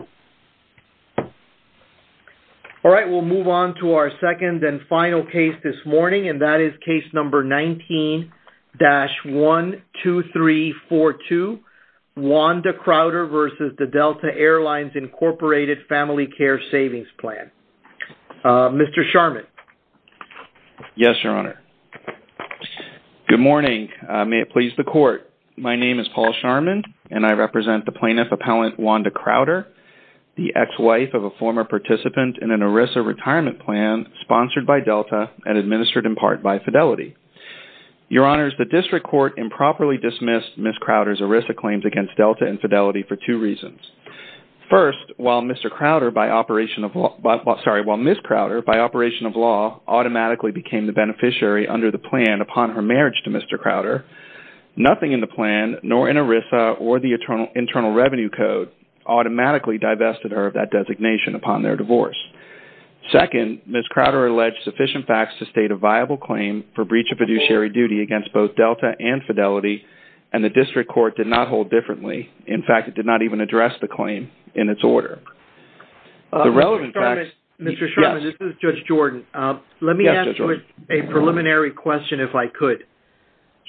Paul Sharman, Plaintiff Appellant Wanda Crowder, Plaintiff Appellant Paul Sharman, Plaintiff Appellant Wanda Crowder, the ex-wife of a former participant in an ERISA retirement plan sponsored by Delta and administered in part by Fidelity. Your Honors, the District Court improperly dismissed Ms. Crowder's ERISA claims against Delta and Fidelity for two reasons. First, while Ms. Crowder, by operation of law, automatically became the beneficiary under the plan upon her marriage to Mr. Crowder, nothing in the plan, nor in ERISA, or the Internal Revenue Code automatically divested her of that designation upon their divorce. Second, Ms. Crowder alleged sufficient facts to state a viable claim for breach of fiduciary duty against both Delta and Fidelity, and the District Court did not hold differently. In fact, it did not even address the claim in its order. The relevant facts... A preliminary question, if I could.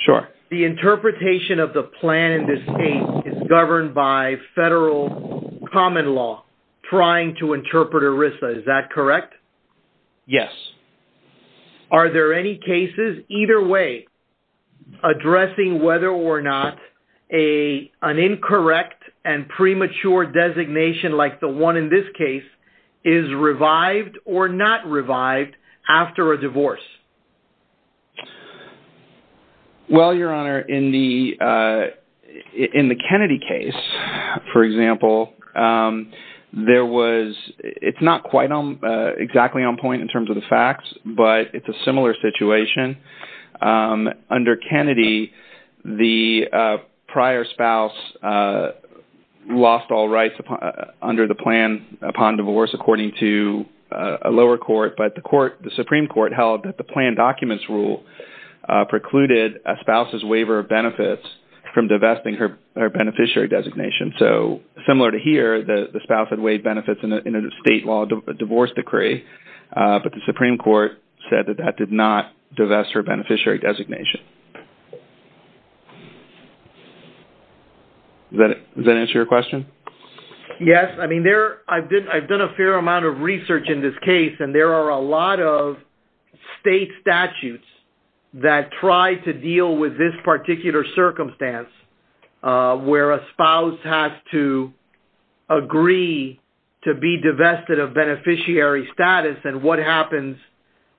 Sure. The interpretation of the plan in this case is governed by federal common law trying to interpret ERISA. Is that correct? Yes. Are there any cases, either way, addressing whether or not an incorrect and premature designation, like the one in this case, is revived or not revived after a divorce? Well, Your Honor, in the Kennedy case, for example, there was... It's not quite exactly on point in terms of the facts, but it's a similar situation. Under Kennedy, the prior spouse lost all rights under the plan upon divorce, according to a lower court, but the Supreme Court held that the planned documents rule precluded a spouse's waiver of benefits from divesting her beneficiary designation. So, similar to here, the spouse had waived benefits in a state law divorce decree, but the Supreme Court said that that did not divest her beneficiary designation. Does that answer your question? Yes. I mean, I've done a fair amount of research in this case, and there are a lot of state statutes that try to deal with this particular circumstance, where a spouse has to agree to be divested of beneficiary status, and what happens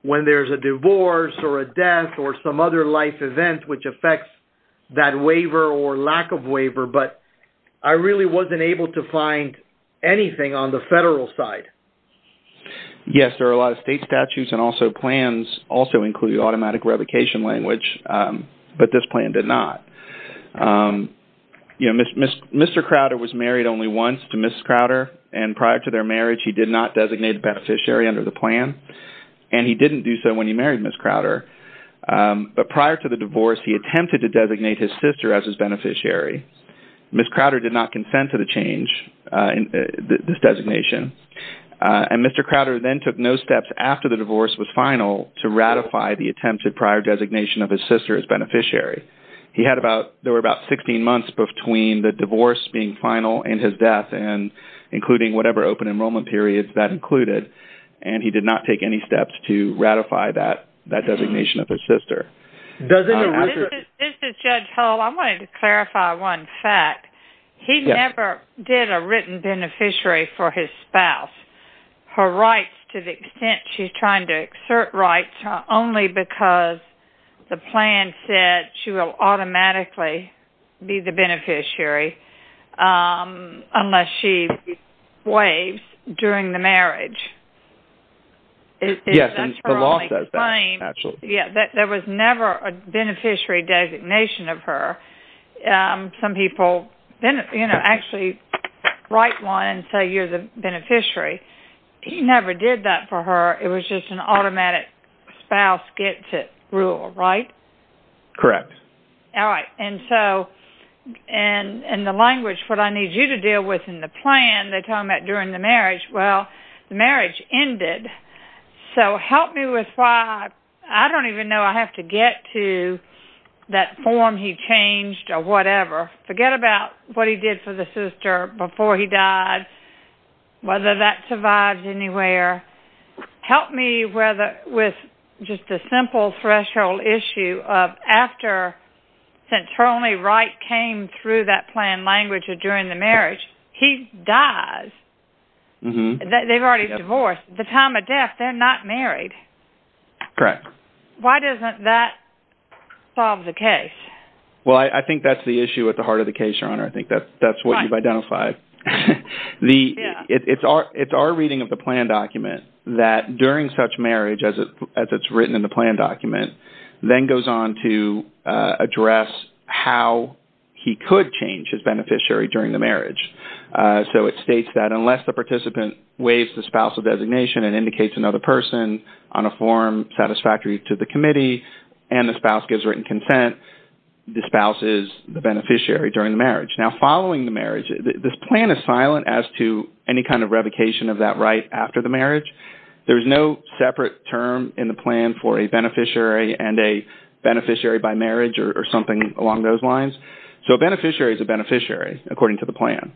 when there's a divorce or a death or some other life event which affects that waiver or lack of waiver, but I really wasn't able to find anything on the federal side. Yes, there are a lot of state statutes and also plans also include automatic revocation language, but this plan did not. Mr. Crowder was married only once to Mrs. Crowder, and prior to their marriage, he did not designate a beneficiary under the plan, and he didn't do so when he married Mrs. Crowder, but prior to the divorce, he attempted to designate his sister as his beneficiary. Mrs. Crowder did not consent to the change in this designation, and Mr. Crowder then took no steps after the divorce was final to ratify the attempted prior designation of his sister as beneficiary. There were about 16 months between the divorce being final and his death, including whatever open enrollment periods that included, and he did not take any steps to ratify that designation of his sister. This is Judge Hull. I wanted to clarify one fact. He never did a written beneficiary for his spouse. Her rights, to the extent she's trying to exert rights, are only because the beneficiary will automatically be the beneficiary unless she waives during the marriage. There was never a beneficiary designation of her. Some people actually write one and say you're the beneficiary. He never did that for her. It was just an automatic spouse-gets-it rule, right? Correct. All right. In the language, what I need you to deal with in the plan, they tell him that during the marriage, well, the marriage ended. So help me with why I don't even know I have to get to that form he changed or whatever. Forget about what he did for the sister before he died, whether that survives anywhere. Help me with just a simple threshold, after St. Tony Wright came through that plan language or during the marriage, he dies. They've already divorced. At the time of death, they're not married. Correct. Why doesn't that solve the case? Well, I think that's the issue at the heart of the case, Your Honor. I think that's what you've identified. It's our reading of the plan document that during such marriage, as it's written in the plan, then goes on to address how he could change his beneficiary during the marriage. So it states that unless the participant waives the spouse of designation and indicates another person on a form satisfactory to the committee and the spouse gives written consent, the spouse is the beneficiary during the marriage. Now, following the marriage, this plan is silent as to any kind of revocation of that right after the marriage. There's no separate term in the plan for a beneficiary and a beneficiary by marriage or something along those lines. So a beneficiary is a beneficiary according to the plan.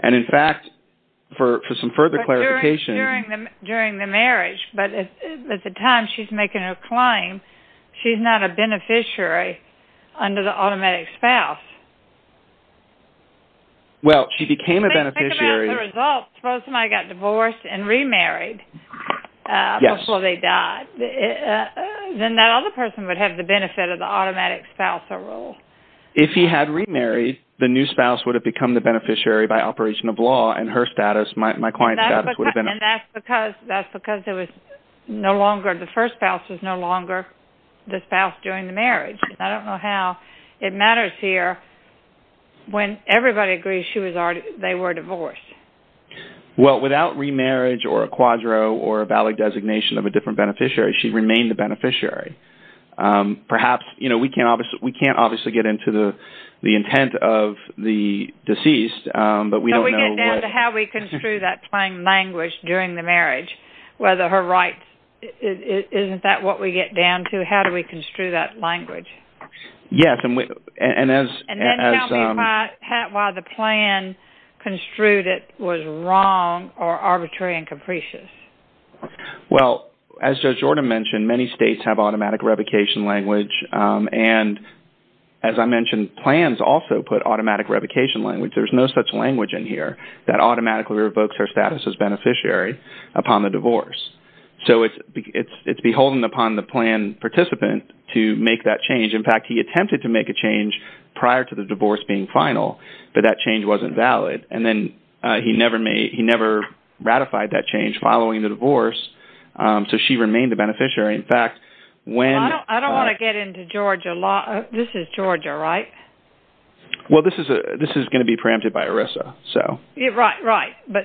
And in fact, for some further clarification... During the marriage, but at the time she's making a claim, she's not a beneficiary under the automatic spouse. Well, she became a beneficiary... Then that other person would have the benefit of the automatic spousal role. If he had remarried, the new spouse would have become the beneficiary by operation of law and her status, my client's status would have been... And that's because there was no longer... The first spouse was no longer the spouse during the marriage. I don't know how it matters here when everybody agrees they were divorced. Well, without remarriage or a quadro or a designation of a different beneficiary, she remained the beneficiary. We can't obviously get into the intent of the deceased, but we don't know what... So we get down to how we construe that plain language during the marriage, whether her rights... Isn't that what we get down to? How do we construe that language? Yes, and as... And then tell me why the plan construed it was wrong or arbitrary and capricious. Well, as Judge Jordan mentioned, many states have automatic revocation language. And as I mentioned, plans also put automatic revocation language. There's no such language in here that automatically revokes her status as beneficiary upon the divorce. So it's beholden upon the plan participant to make that change. In fact, he attempted to make a change prior to divorce being final, but that change wasn't valid. And then he never ratified that change following the divorce. So she remained the beneficiary. In fact, when... I don't want to get into Georgia law. This is Georgia, right? Well, this is going to be preempted by ERISA, so... Right, right. But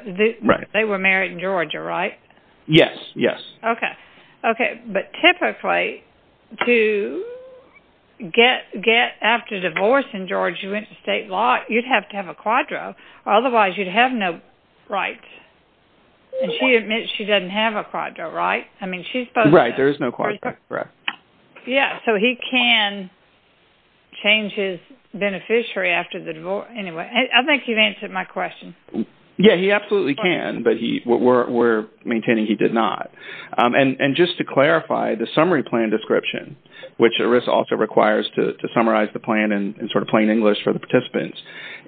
they were married in Georgia, right? Yes, yes. Okay. But typically, to get after divorce in Georgia, you went to state law, you'd have to have a quadro. Otherwise, you'd have no rights. And she admits she doesn't have a quadro, right? I mean, she's supposed to... Right, there is no quadro, correct. Yeah, so he can change his beneficiary after the divorce. Anyway, I think you've answered my question. And just to clarify, the summary plan description, which ERISA also requires to summarize the plan in sort of plain English for the participants,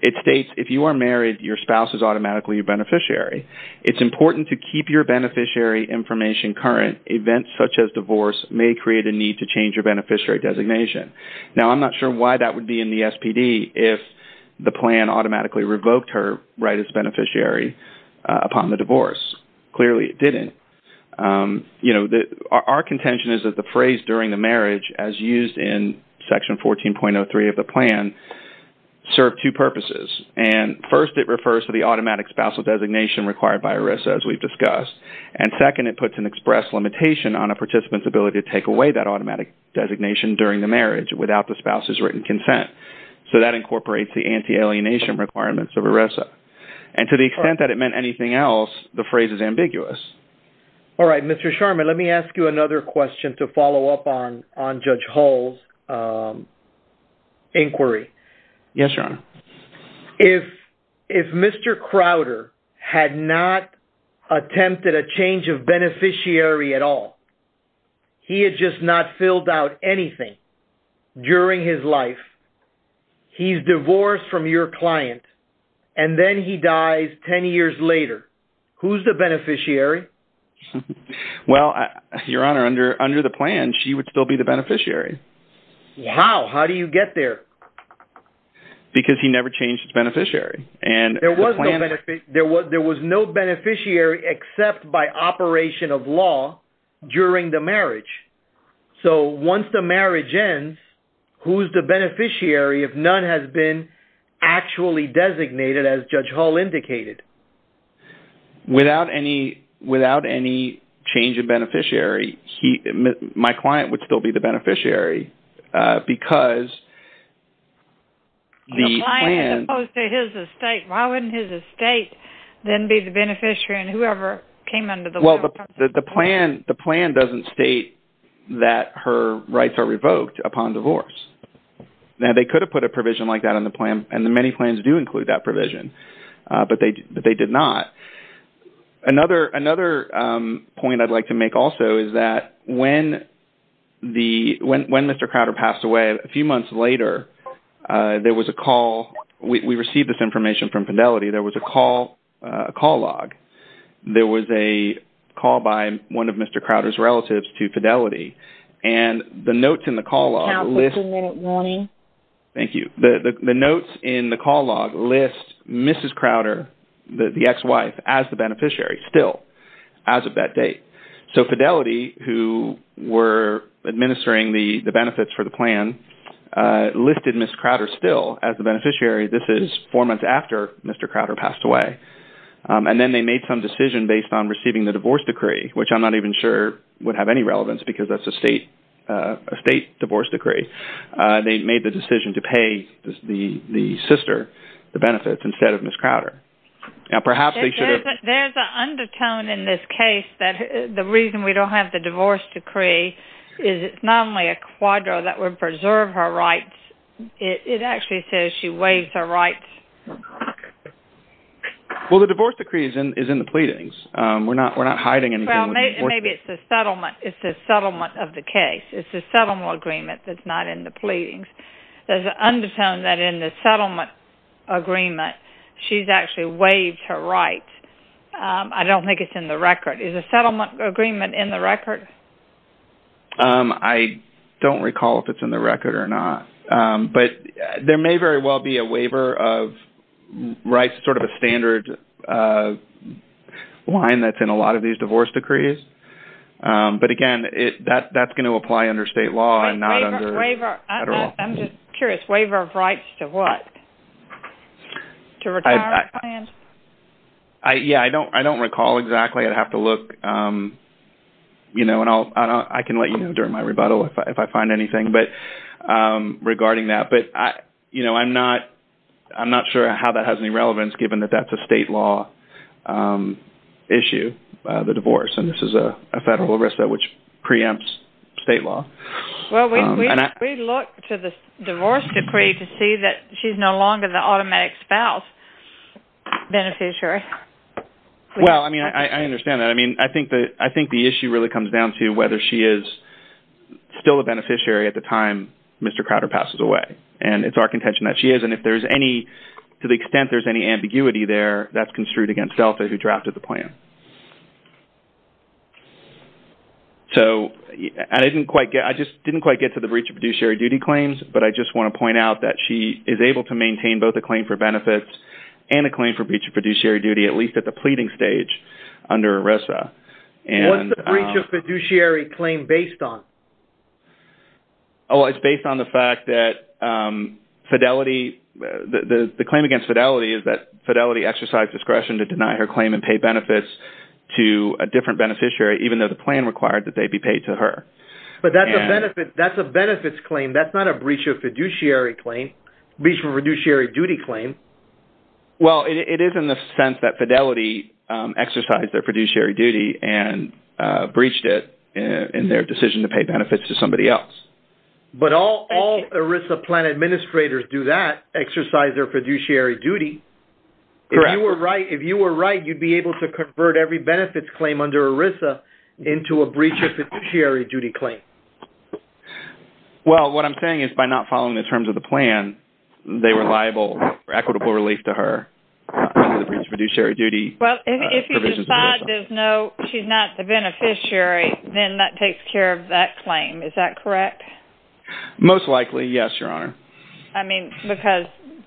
it states, if you are married, your spouse is automatically your beneficiary. It's important to keep your beneficiary information current. Events such as divorce may create a need to change your beneficiary designation. Now, I'm not sure why that would be in the SPD if the plan automatically revoked her right as a beneficiary. Our contention is that the phrase during the marriage, as used in Section 14.03 of the plan, served two purposes. And first, it refers to the automatic spousal designation required by ERISA, as we've discussed. And second, it puts an express limitation on a participant's ability to take away that automatic designation during the marriage without the spouse's written consent. So that incorporates the anti-alienation requirements of ERISA. And to the extent that it the phrase is ambiguous. All right, Mr. Sharma, let me ask you another question to follow up on Judge Hull's inquiry. Yes, Your Honor. If Mr. Crowder had not attempted a change of beneficiary at all, he had just not filled out anything during his life, he's divorced from your client, and then he dies 10 years later. Who's the beneficiary? Well, Your Honor, under the plan, she would still be the beneficiary. How? How do you get there? Because he never changed his beneficiary. And there was no beneficiary except by operation of law during the marriage. So once the marriage ends, who's the beneficiary if none has been actually designated as Judge Hull indicated? Without any change of beneficiary, my client would still be the beneficiary because the plan... The client as opposed to his estate. Why wouldn't his estate then be the beneficiary and whoever came under the law... Well, the plan doesn't state that her rights are revoked upon divorce. Now, they could have put a provision like that on the plan and the many plans do include that provision, but they did not. Another point I'd like to make also is that when Mr. Crowder passed away a few months later, there was a call. We received this information from Fidelity. There was a call log. There was a call by one of Mr. Crowder's relatives to Fidelity. And the notes in the call log list Mrs. Crowder, the ex-wife as the beneficiary still as of that date. So Fidelity who were administering the benefits for the plan listed Ms. Crowder still as the beneficiary. This is four months after Mr. Crowder passed away. And then they made some decision based on receiving the divorce decree, which I'm not even sure would have any relevance because that's a state divorce decree. They made the decision to pay the sister the benefits instead of Ms. Crowder. Now, perhaps they should have... There's an undertone in this case that the reason we don't have the divorce decree is it's not only a quadro that would preserve her rights. It actually says she waives her rights. Well, the divorce decree is in the pleadings. We're not hiding anything. Maybe it's a settlement. It's a settlement of the case. It's a settlement agreement that's not in the pleadings. There's an undertone that in the settlement agreement she's actually waived her rights. I don't think it's in the record. Is a settlement agreement in the record? I don't recall if it's in the record or not, but there may very well be a waiver of rights, sort of a standard line that's in a lot of these divorce decrees. But again, that's going to apply under state law and not under federal. I'm just curious. Waiver of rights to what? To retire a client? Yeah. I don't recall exactly. I'd have to look. I can let you know during my rebuttal if I find anything regarding that. But I'm not sure how that has any relevance given that that's a state law issue, the divorce. And this is a federal arrest that which preempts state law. Well, we look to the divorce decree to see that she's no longer the automatic spouse beneficiary. Well, I mean, I understand that. I mean, I think the issue really comes down to whether she is still a beneficiary at the time Mr. Crowder passes away. And it's our contention that she is. And if there's any, to the extent there's any ambiguity there, that's construed against Delta who drafted the plan. So I just didn't quite get to the breach of fiduciary duty claims, but I just want to point out that she is able to maintain both a claim for benefits and a claim for breach of fiduciary duty, at least at the pleading stage under ERISA. What's the breach of fiduciary claim based on? Oh, it's based on the fact that fidelity, the claim against fidelity is that fidelity exercise discretion to deny her claim and pay benefits to a different beneficiary, even though the plan required that they be paid to her. But that's a benefits claim. That's not a breach of fiduciary claim, breach of fiduciary duty claim. Well, it is in the sense that fidelity exercised their fiduciary duty and breached it in their decision to pay benefits to somebody else. But all ERISA plan administrators do that, exercise their fiduciary duty. Correct. If you were right, you'd be able to convert every benefits claim under ERISA into a breach of fiduciary duty claim. Well, what I'm saying is by not following the terms of the plan, they were liable for equitable relief to her under the breach of fiduciary duty. Well, if you decide there's no, she's not the beneficiary, then that takes care of that claim. Is that correct? Most likely, yes, Your Honor. I mean, because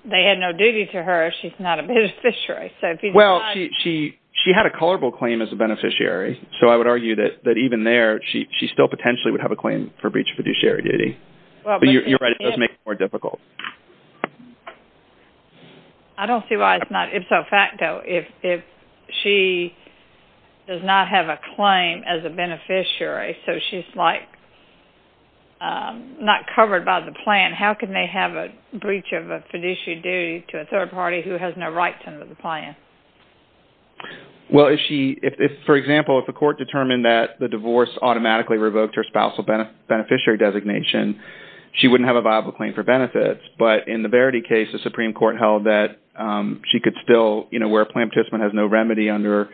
they had no duty to her, she's not a beneficiary. Well, she had a colorable claim as a beneficiary. So I would argue that even there, she still potentially would have a claim for breach of fiduciary duty. But you're right, it does make it more difficult. I don't see why it's not ipso facto. If she does not have a claim as a beneficiary, so she's like not covered by the plan, how can they have a breach of a fiduciary duty to a third party who has no right to the plan? Well, if she, if, for example, if the court determined that the divorce automatically revoked her spousal beneficiary designation, she wouldn't have a viable claim for benefits. But in the Verity case, the Supreme Court held that she could still, you know, where a plan participant has no remedy under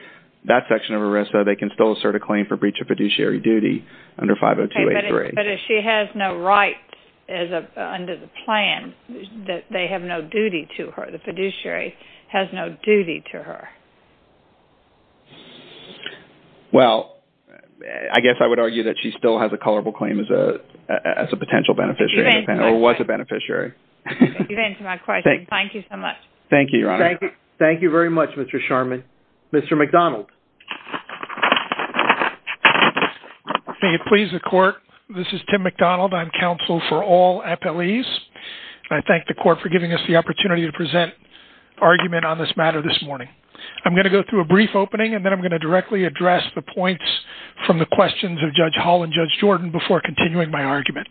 that section of ERISA, they can still assert a claim for breach of fiduciary duty under 50283. But if she has no right under the plan, they have no duty to her, the fiduciary has no duty to her. Well, I guess I would argue that she still has a colorable claim as a potential beneficiary, or was a beneficiary. Thank you so much. Thank you, Your Honor. Thank you very much, Mr. Sharman. Mr. McDonald. May it please the court, this is Tim McDonald. I'm counsel for all appellees. I thank the court for giving us the opportunity to present argument on this matter this morning. I'm going to go through a brief opening and then I'm going to directly address the points from the questions of Judge Hall and Judge Jordan before continuing my argument.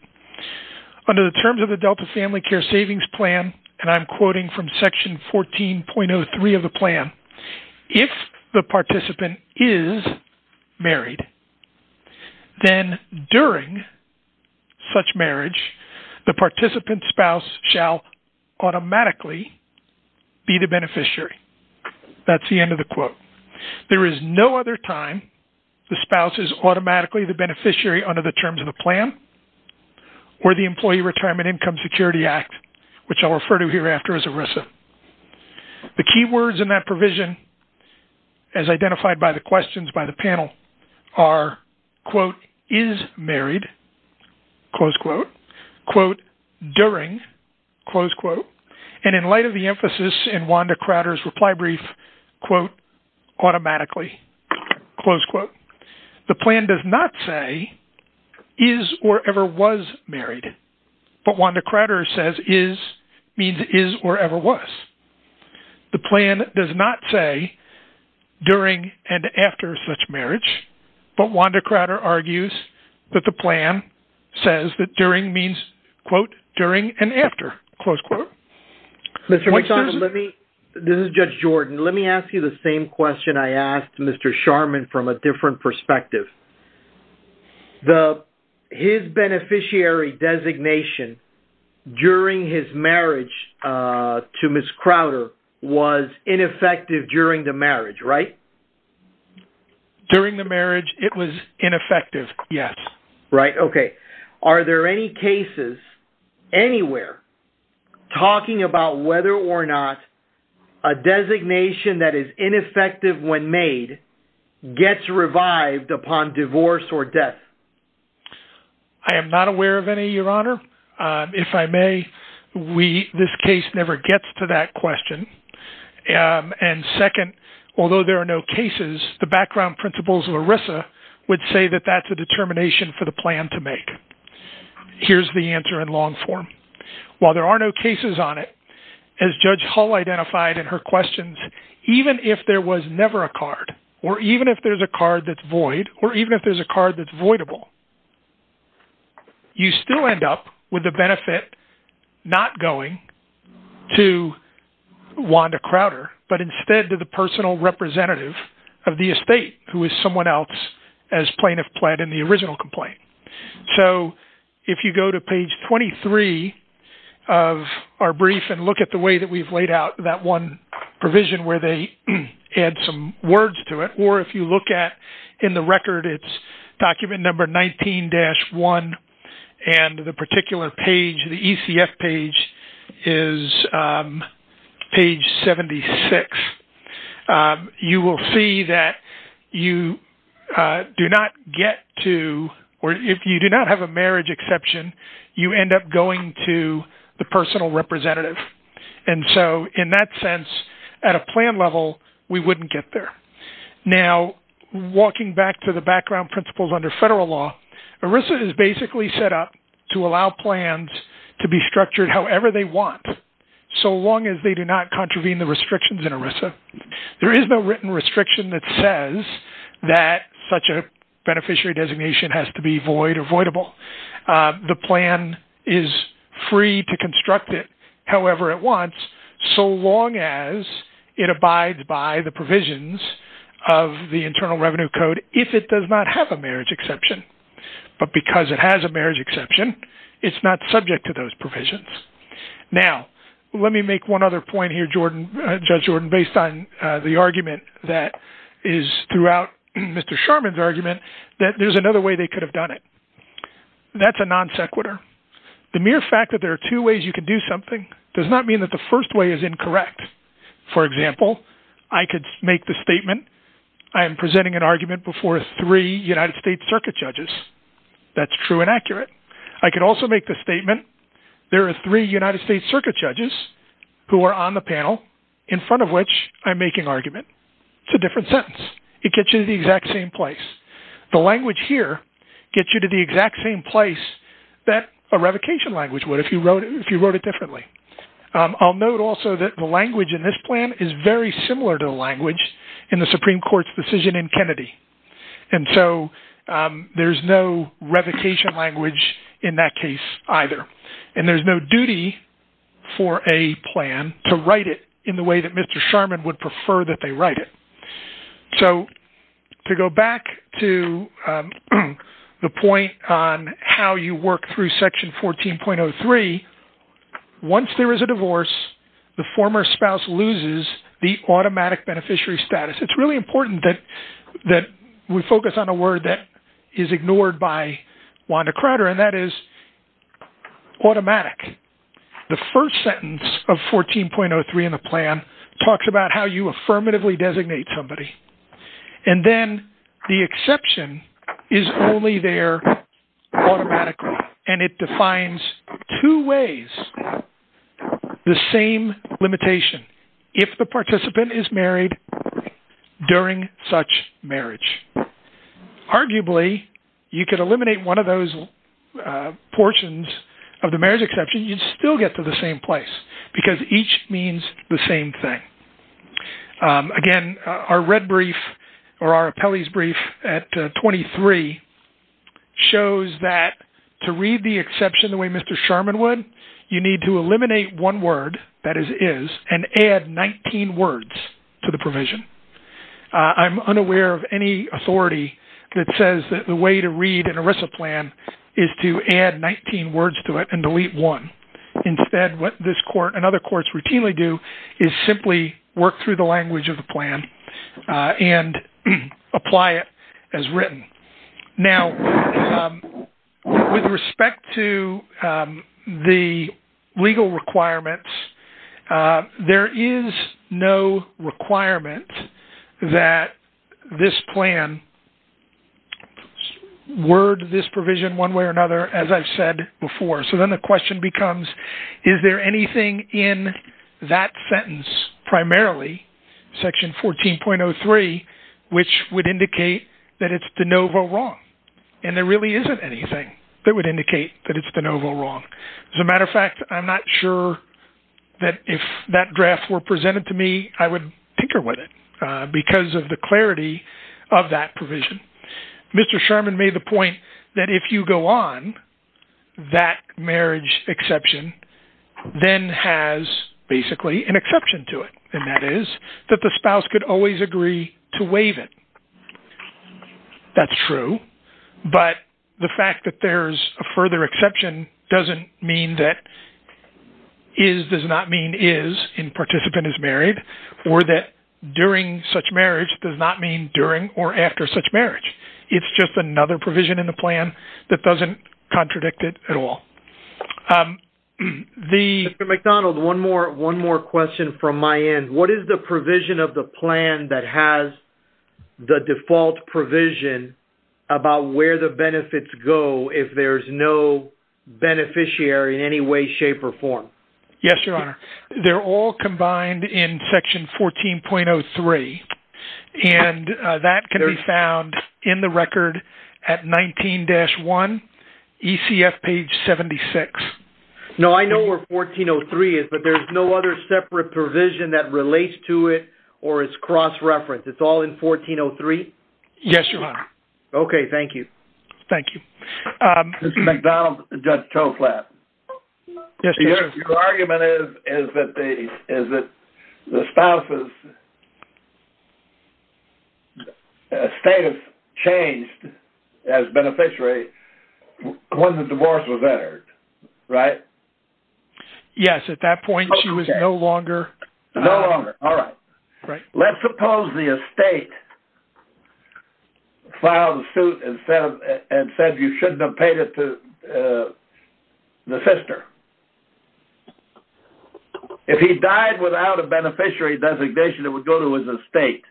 Under the terms of the Delta Family Care Savings Plan, and I'm quoting from section 14.03 of the plan, if the participant is married, then during such marriage, the participant spouse shall automatically be the beneficiary. That's the end of the quote. There is no other time the spouse is automatically the beneficiary under the terms of the plan, or the Employee Retirement Income Security Act, which I'll refer to hereafter as ERISA. The key words in that provision, as identified by the questions by the panel are, quote, is married, close quote, quote, during, close quote. And in light of the emphasis in Wanda Crowder's reply brief, quote, automatically, close quote. The plan does not say is or ever was married. But Wanda Crowder says is means is or ever was. The plan does not say during and after such marriage. But Wanda Crowder argues that the plan says that during means, quote, during and after, close quote. This is Judge Jordan. Let me ask you the same question I asked Mr. Sharman from a different perspective. His beneficiary designation during his marriage to Ms. Crowder was ineffective during the marriage, right? During the marriage, it was ineffective. Yes. Right. Okay. Are there any cases anywhere talking about whether or not a designation that is ineffective when made gets revived upon divorce or death? I am not aware of any, Your Honor. If I may, we, this case never gets to that question. And second, although there are no cases, the background principles of ERISA would say that that's a determination for the plan to make. Here's the answer in long form. While there are no cases on it, as Judge Hull identified in her questions, even if there was never a card, or even if there's a card that's void, or even if there's a card that's voidable, you still end up with the benefit not going to Wanda Crowder, but instead to the personal representative of the estate who is someone else as plaintiff pled in the original complaint. So if you go to page 23 of our brief and look at the way that we've laid out that one provision where they add some words to it, or if you look at in the record, it's document number 19-1, and the particular page, the ECF page is page 76. You will see that you do not get to, or if you do not have a marriage exception, you end up going to the personal representative. And so in that sense, at a plan level, we wouldn't get there. Now, walking back to the background principles under federal law, ERISA is basically set up to allow plans to be structured however they want, so long as they do not contravene the restrictions in ERISA. There is no written restriction that says that such a beneficiary designation has to be void or voidable. The plan is free to construct it however it wants, so long as it abides by the provisions of the Internal Revenue Code if it does not have a marriage exception. But because it has a marriage exception, it's not subject to those provisions. Now, let me make one other point here, Judge Jordan, based on the argument that is throughout Mr. Sharman's argument, that there's another way they could have done it. That's a non sequitur. The mere fact that there are two ways you could do something does not mean that the first way is incorrect. For example, I could make the statement, I am presenting an argument before three United States circuit judges. That's true and accurate. I could also make the statement, there are three United States circuit judges who are on the panel in front of which I'm making argument. It's a different sentence. It gets you to the exact same place. The language here gets you to the exact same place that a revocation language would if you wrote it differently. I'll note also that the language in this plan is very similar to the language in the Supreme Court's decision in Kennedy. And so there's no revocation language in that case either. And there's no duty for a plan to write it in the way that Mr. Sharman would prefer that they write it. So to go back to the point on how you work through section 14.03, once there is a divorce, the former spouse loses the automatic beneficiary status. It's really important that we focus on a word that is ignored by Wanda Crowder, and that is automatic. The first sentence of 14.03 in the plan talks about how you affirmatively designate somebody. And then the exception is only there automatically. And it defines two ways, the same limitation, if the participant is married during such marriage. Arguably, you could eliminate one of those portions of the marriage exception, you'd still get to the same place, because each means the same thing. Again, our red brief, or our appellee's brief at 23 shows that to read the exception the way Mr. Sharman would, you need to eliminate one word, that is is, and add 19 words to the provision. I'm unaware of any authority that says that the way to read an ERISA plan is to add 19 words to it and delete one. Instead, what this court and other courts routinely do is simply work through the language of the plan and apply it as written. Now, with respect to the legal requirements, there is no requirement that this plan word this provision one way or another, as I've said before. So then the question becomes, is there anything in that sentence primarily, section 14.03, which would indicate that it's de novo wrong. And there really isn't anything that would indicate that it's de novo wrong. As a matter of fact, I'm not sure that if that draft were presented to me, I would tinker with it. Because of the clarity of that provision. Mr. Sharman made the point that if you go on, that marriage exception, then has basically an exception to it. And that is that the spouse could always agree to waive it. That's true. But the fact that there's a further exception doesn't mean that is does not mean is in participant is married, or that during such marriage does not mean during or after such marriage. It's just another provision in the plan that doesn't contradict it at all. The McDonald one more one more question from my end, what is the provision of the plan that has the default provision about where the benefits go if there's no beneficiary in any way, shape or form? Yes, Your Honor, they're all combined in section 14.03. And that can be found in the record at 19 dash one, ECF page 76. No, I know where 1403 is, but there's no other separate provision that relates to it, or it's cross reference. It's all in 1403. Yes, Your Honor. Okay, thank you. Thank you. McDonald, Judge Toflat. Your argument is, is that the spouses status changed as beneficiary when the divorce was entered, right? Yes, at that point, she was no longer. No longer. All right. Right. Let's suppose the estate filed a suit and said, you shouldn't have paid it to the sister. If he died without a beneficiary designation, it would go to his estate.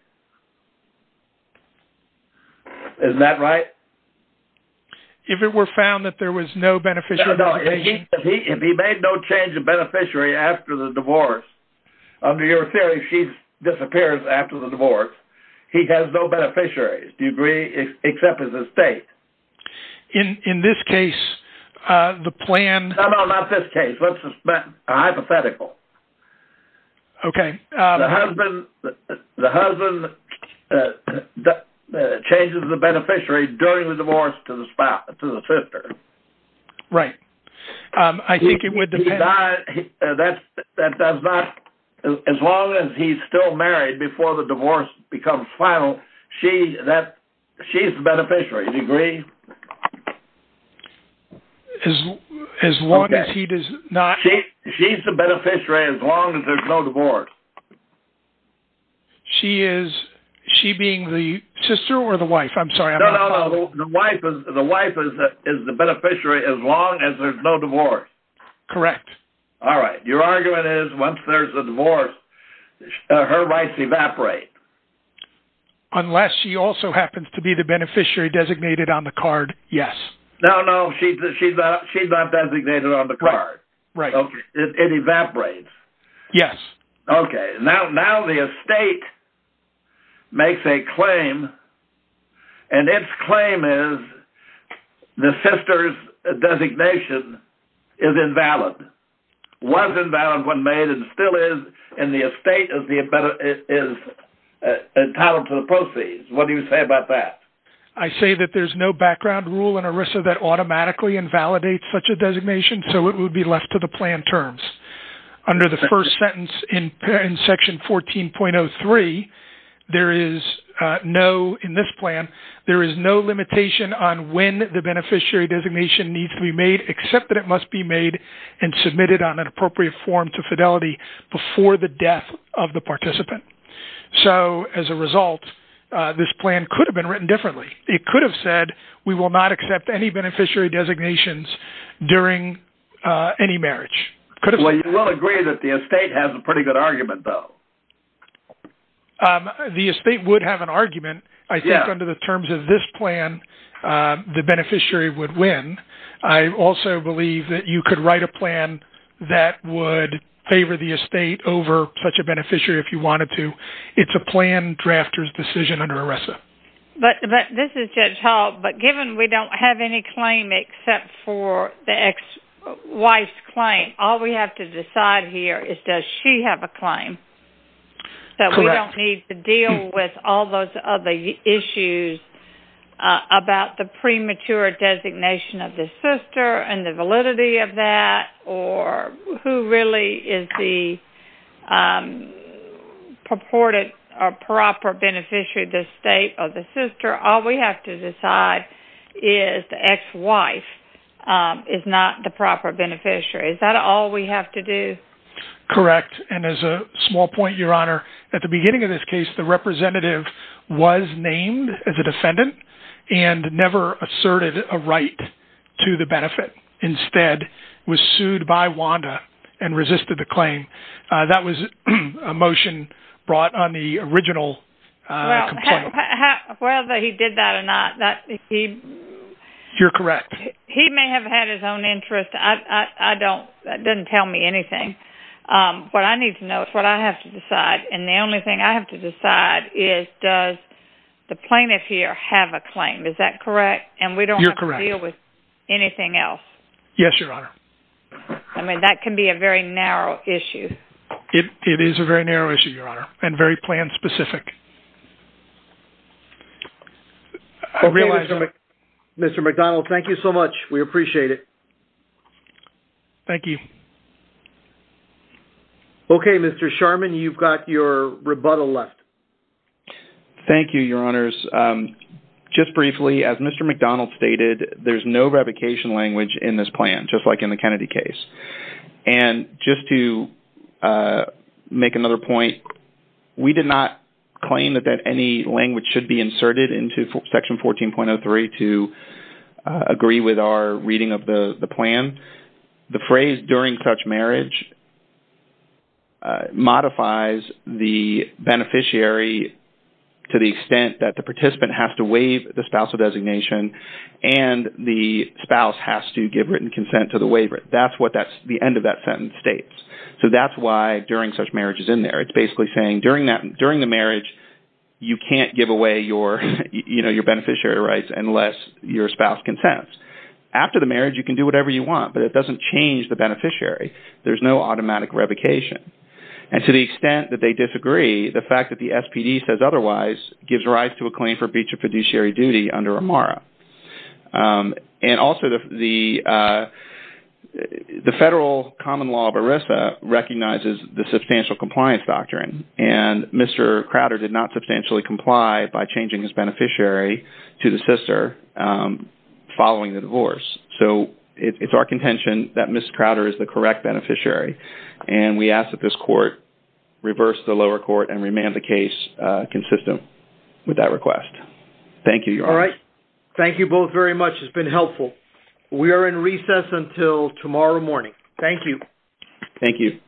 Isn't that right? If it were found that there was no beneficiary? No, if he made no change of beneficiary after the divorce, under your theory, she disappears after the divorce. He has no beneficiaries, do you agree, except his estate. In this case, the plan... No, no, not this case. Hypothetical. Okay. The husband changes the beneficiary during the divorce to the sister. Right. I think it would depend... As long as he's still married before the divorce becomes final, she's the beneficiary, do you agree? She's the beneficiary as long as there's no divorce. She is, she being the sister or the wife? I'm sorry. No, no, no. The wife is the beneficiary as long as there's no divorce. Correct. All right. Your argument is once there's a divorce, her rights evaporate. Unless she also happens to be the beneficiary designated on the card, yes. No, no. She's not designated on the card. It evaporates. Yes. Okay. Now the estate makes a claim and its claim is the sister's designation is invalid. Was invalid when made and still is, and the estate is entitled to the proceeds. What do you say about that? I say that there's no background rule in ERISA that automatically invalidates such a designation, so it would be left to the plan terms. Under the first sentence in section 14.03, there is no, in this plan, there is no limitation on when the beneficiary designation needs to be made, except that it must be made and submitted on an appropriate form to fidelity before the death of the participant. So as a result, this plan could have been written differently. It could have said, we will not accept any beneficiary designations during any marriage. Well, you will agree that the estate has a pretty good argument though. The estate would have an argument. I think under the terms of this plan, the beneficiary would win. I also believe that you could write a plan that would favor the estate over such a beneficiary if you wanted to. It's a plan drafter's decision under ERISA. This is Judge Hall, but given we don't have any claim except for the ex-wife's claim, all we have to decide here is does she have a claim? That we don't need to deal with all those other issues about the premature designation of the um purported or proper beneficiary of the estate or the sister. All we have to decide is the ex-wife is not the proper beneficiary. Is that all we have to do? Correct. And as a small point, Your Honor, at the beginning of this case, the representative was named as a defendant and never asserted a right to the benefit. Instead, was sued by WANDA and resisted the claim. That was a motion brought on the original complaint. Whether he did that or not, he may have had his own interest. That doesn't tell me anything. What I need to know is what I have to decide. And the only thing I have to decide is does the plaintiff here have a claim? Is that correct? And we don't have to deal with anything else? Yes, Your Honor. I mean, that can be a very narrow issue. It is a very narrow issue, Your Honor, and very plan-specific. Mr. McDonald, thank you so much. We appreciate it. Thank you. Okay, Mr. Sharman, you've got your rebuttal left. Thank you, Your Honors. Just briefly, as Mr. McDonald stated, there's no revocation language in this plan, just like in the Kennedy case. And just to make another point, we did not claim that any language should be inserted into Section 14.03 to agree with our reading of the plan. The phrase, during such marriage, modifies the beneficiary to the extent that the participant has to waive the spousal designation and the spouse has to give written consent to the waiver. That's what the end of that sentence states. So that's why during such marriage is in there. It's basically saying during the marriage, you can't give away your beneficiary rights unless your spouse consents. After the marriage, you can do whatever you want, but it doesn't change the beneficiary. There's no automatic revocation. And to the extent that they disagree, the fact that the SPD says otherwise gives rise to a claim for breach of fiduciary duty under AMARA. And also, the federal common law of ERISA recognizes the substantial compliance doctrine. And Mr. Crowder did not substantially comply by changing his beneficiary to the sister following the divorce. So it's our contention that Mr. Crowder is the correct beneficiary. And we ask that this court reverse the lower court and remand the case consistent with that request. Thank you, Your Honor. All right. Thank you both very much. It's been helpful. We are in recess until tomorrow morning. Thank you. Thank you.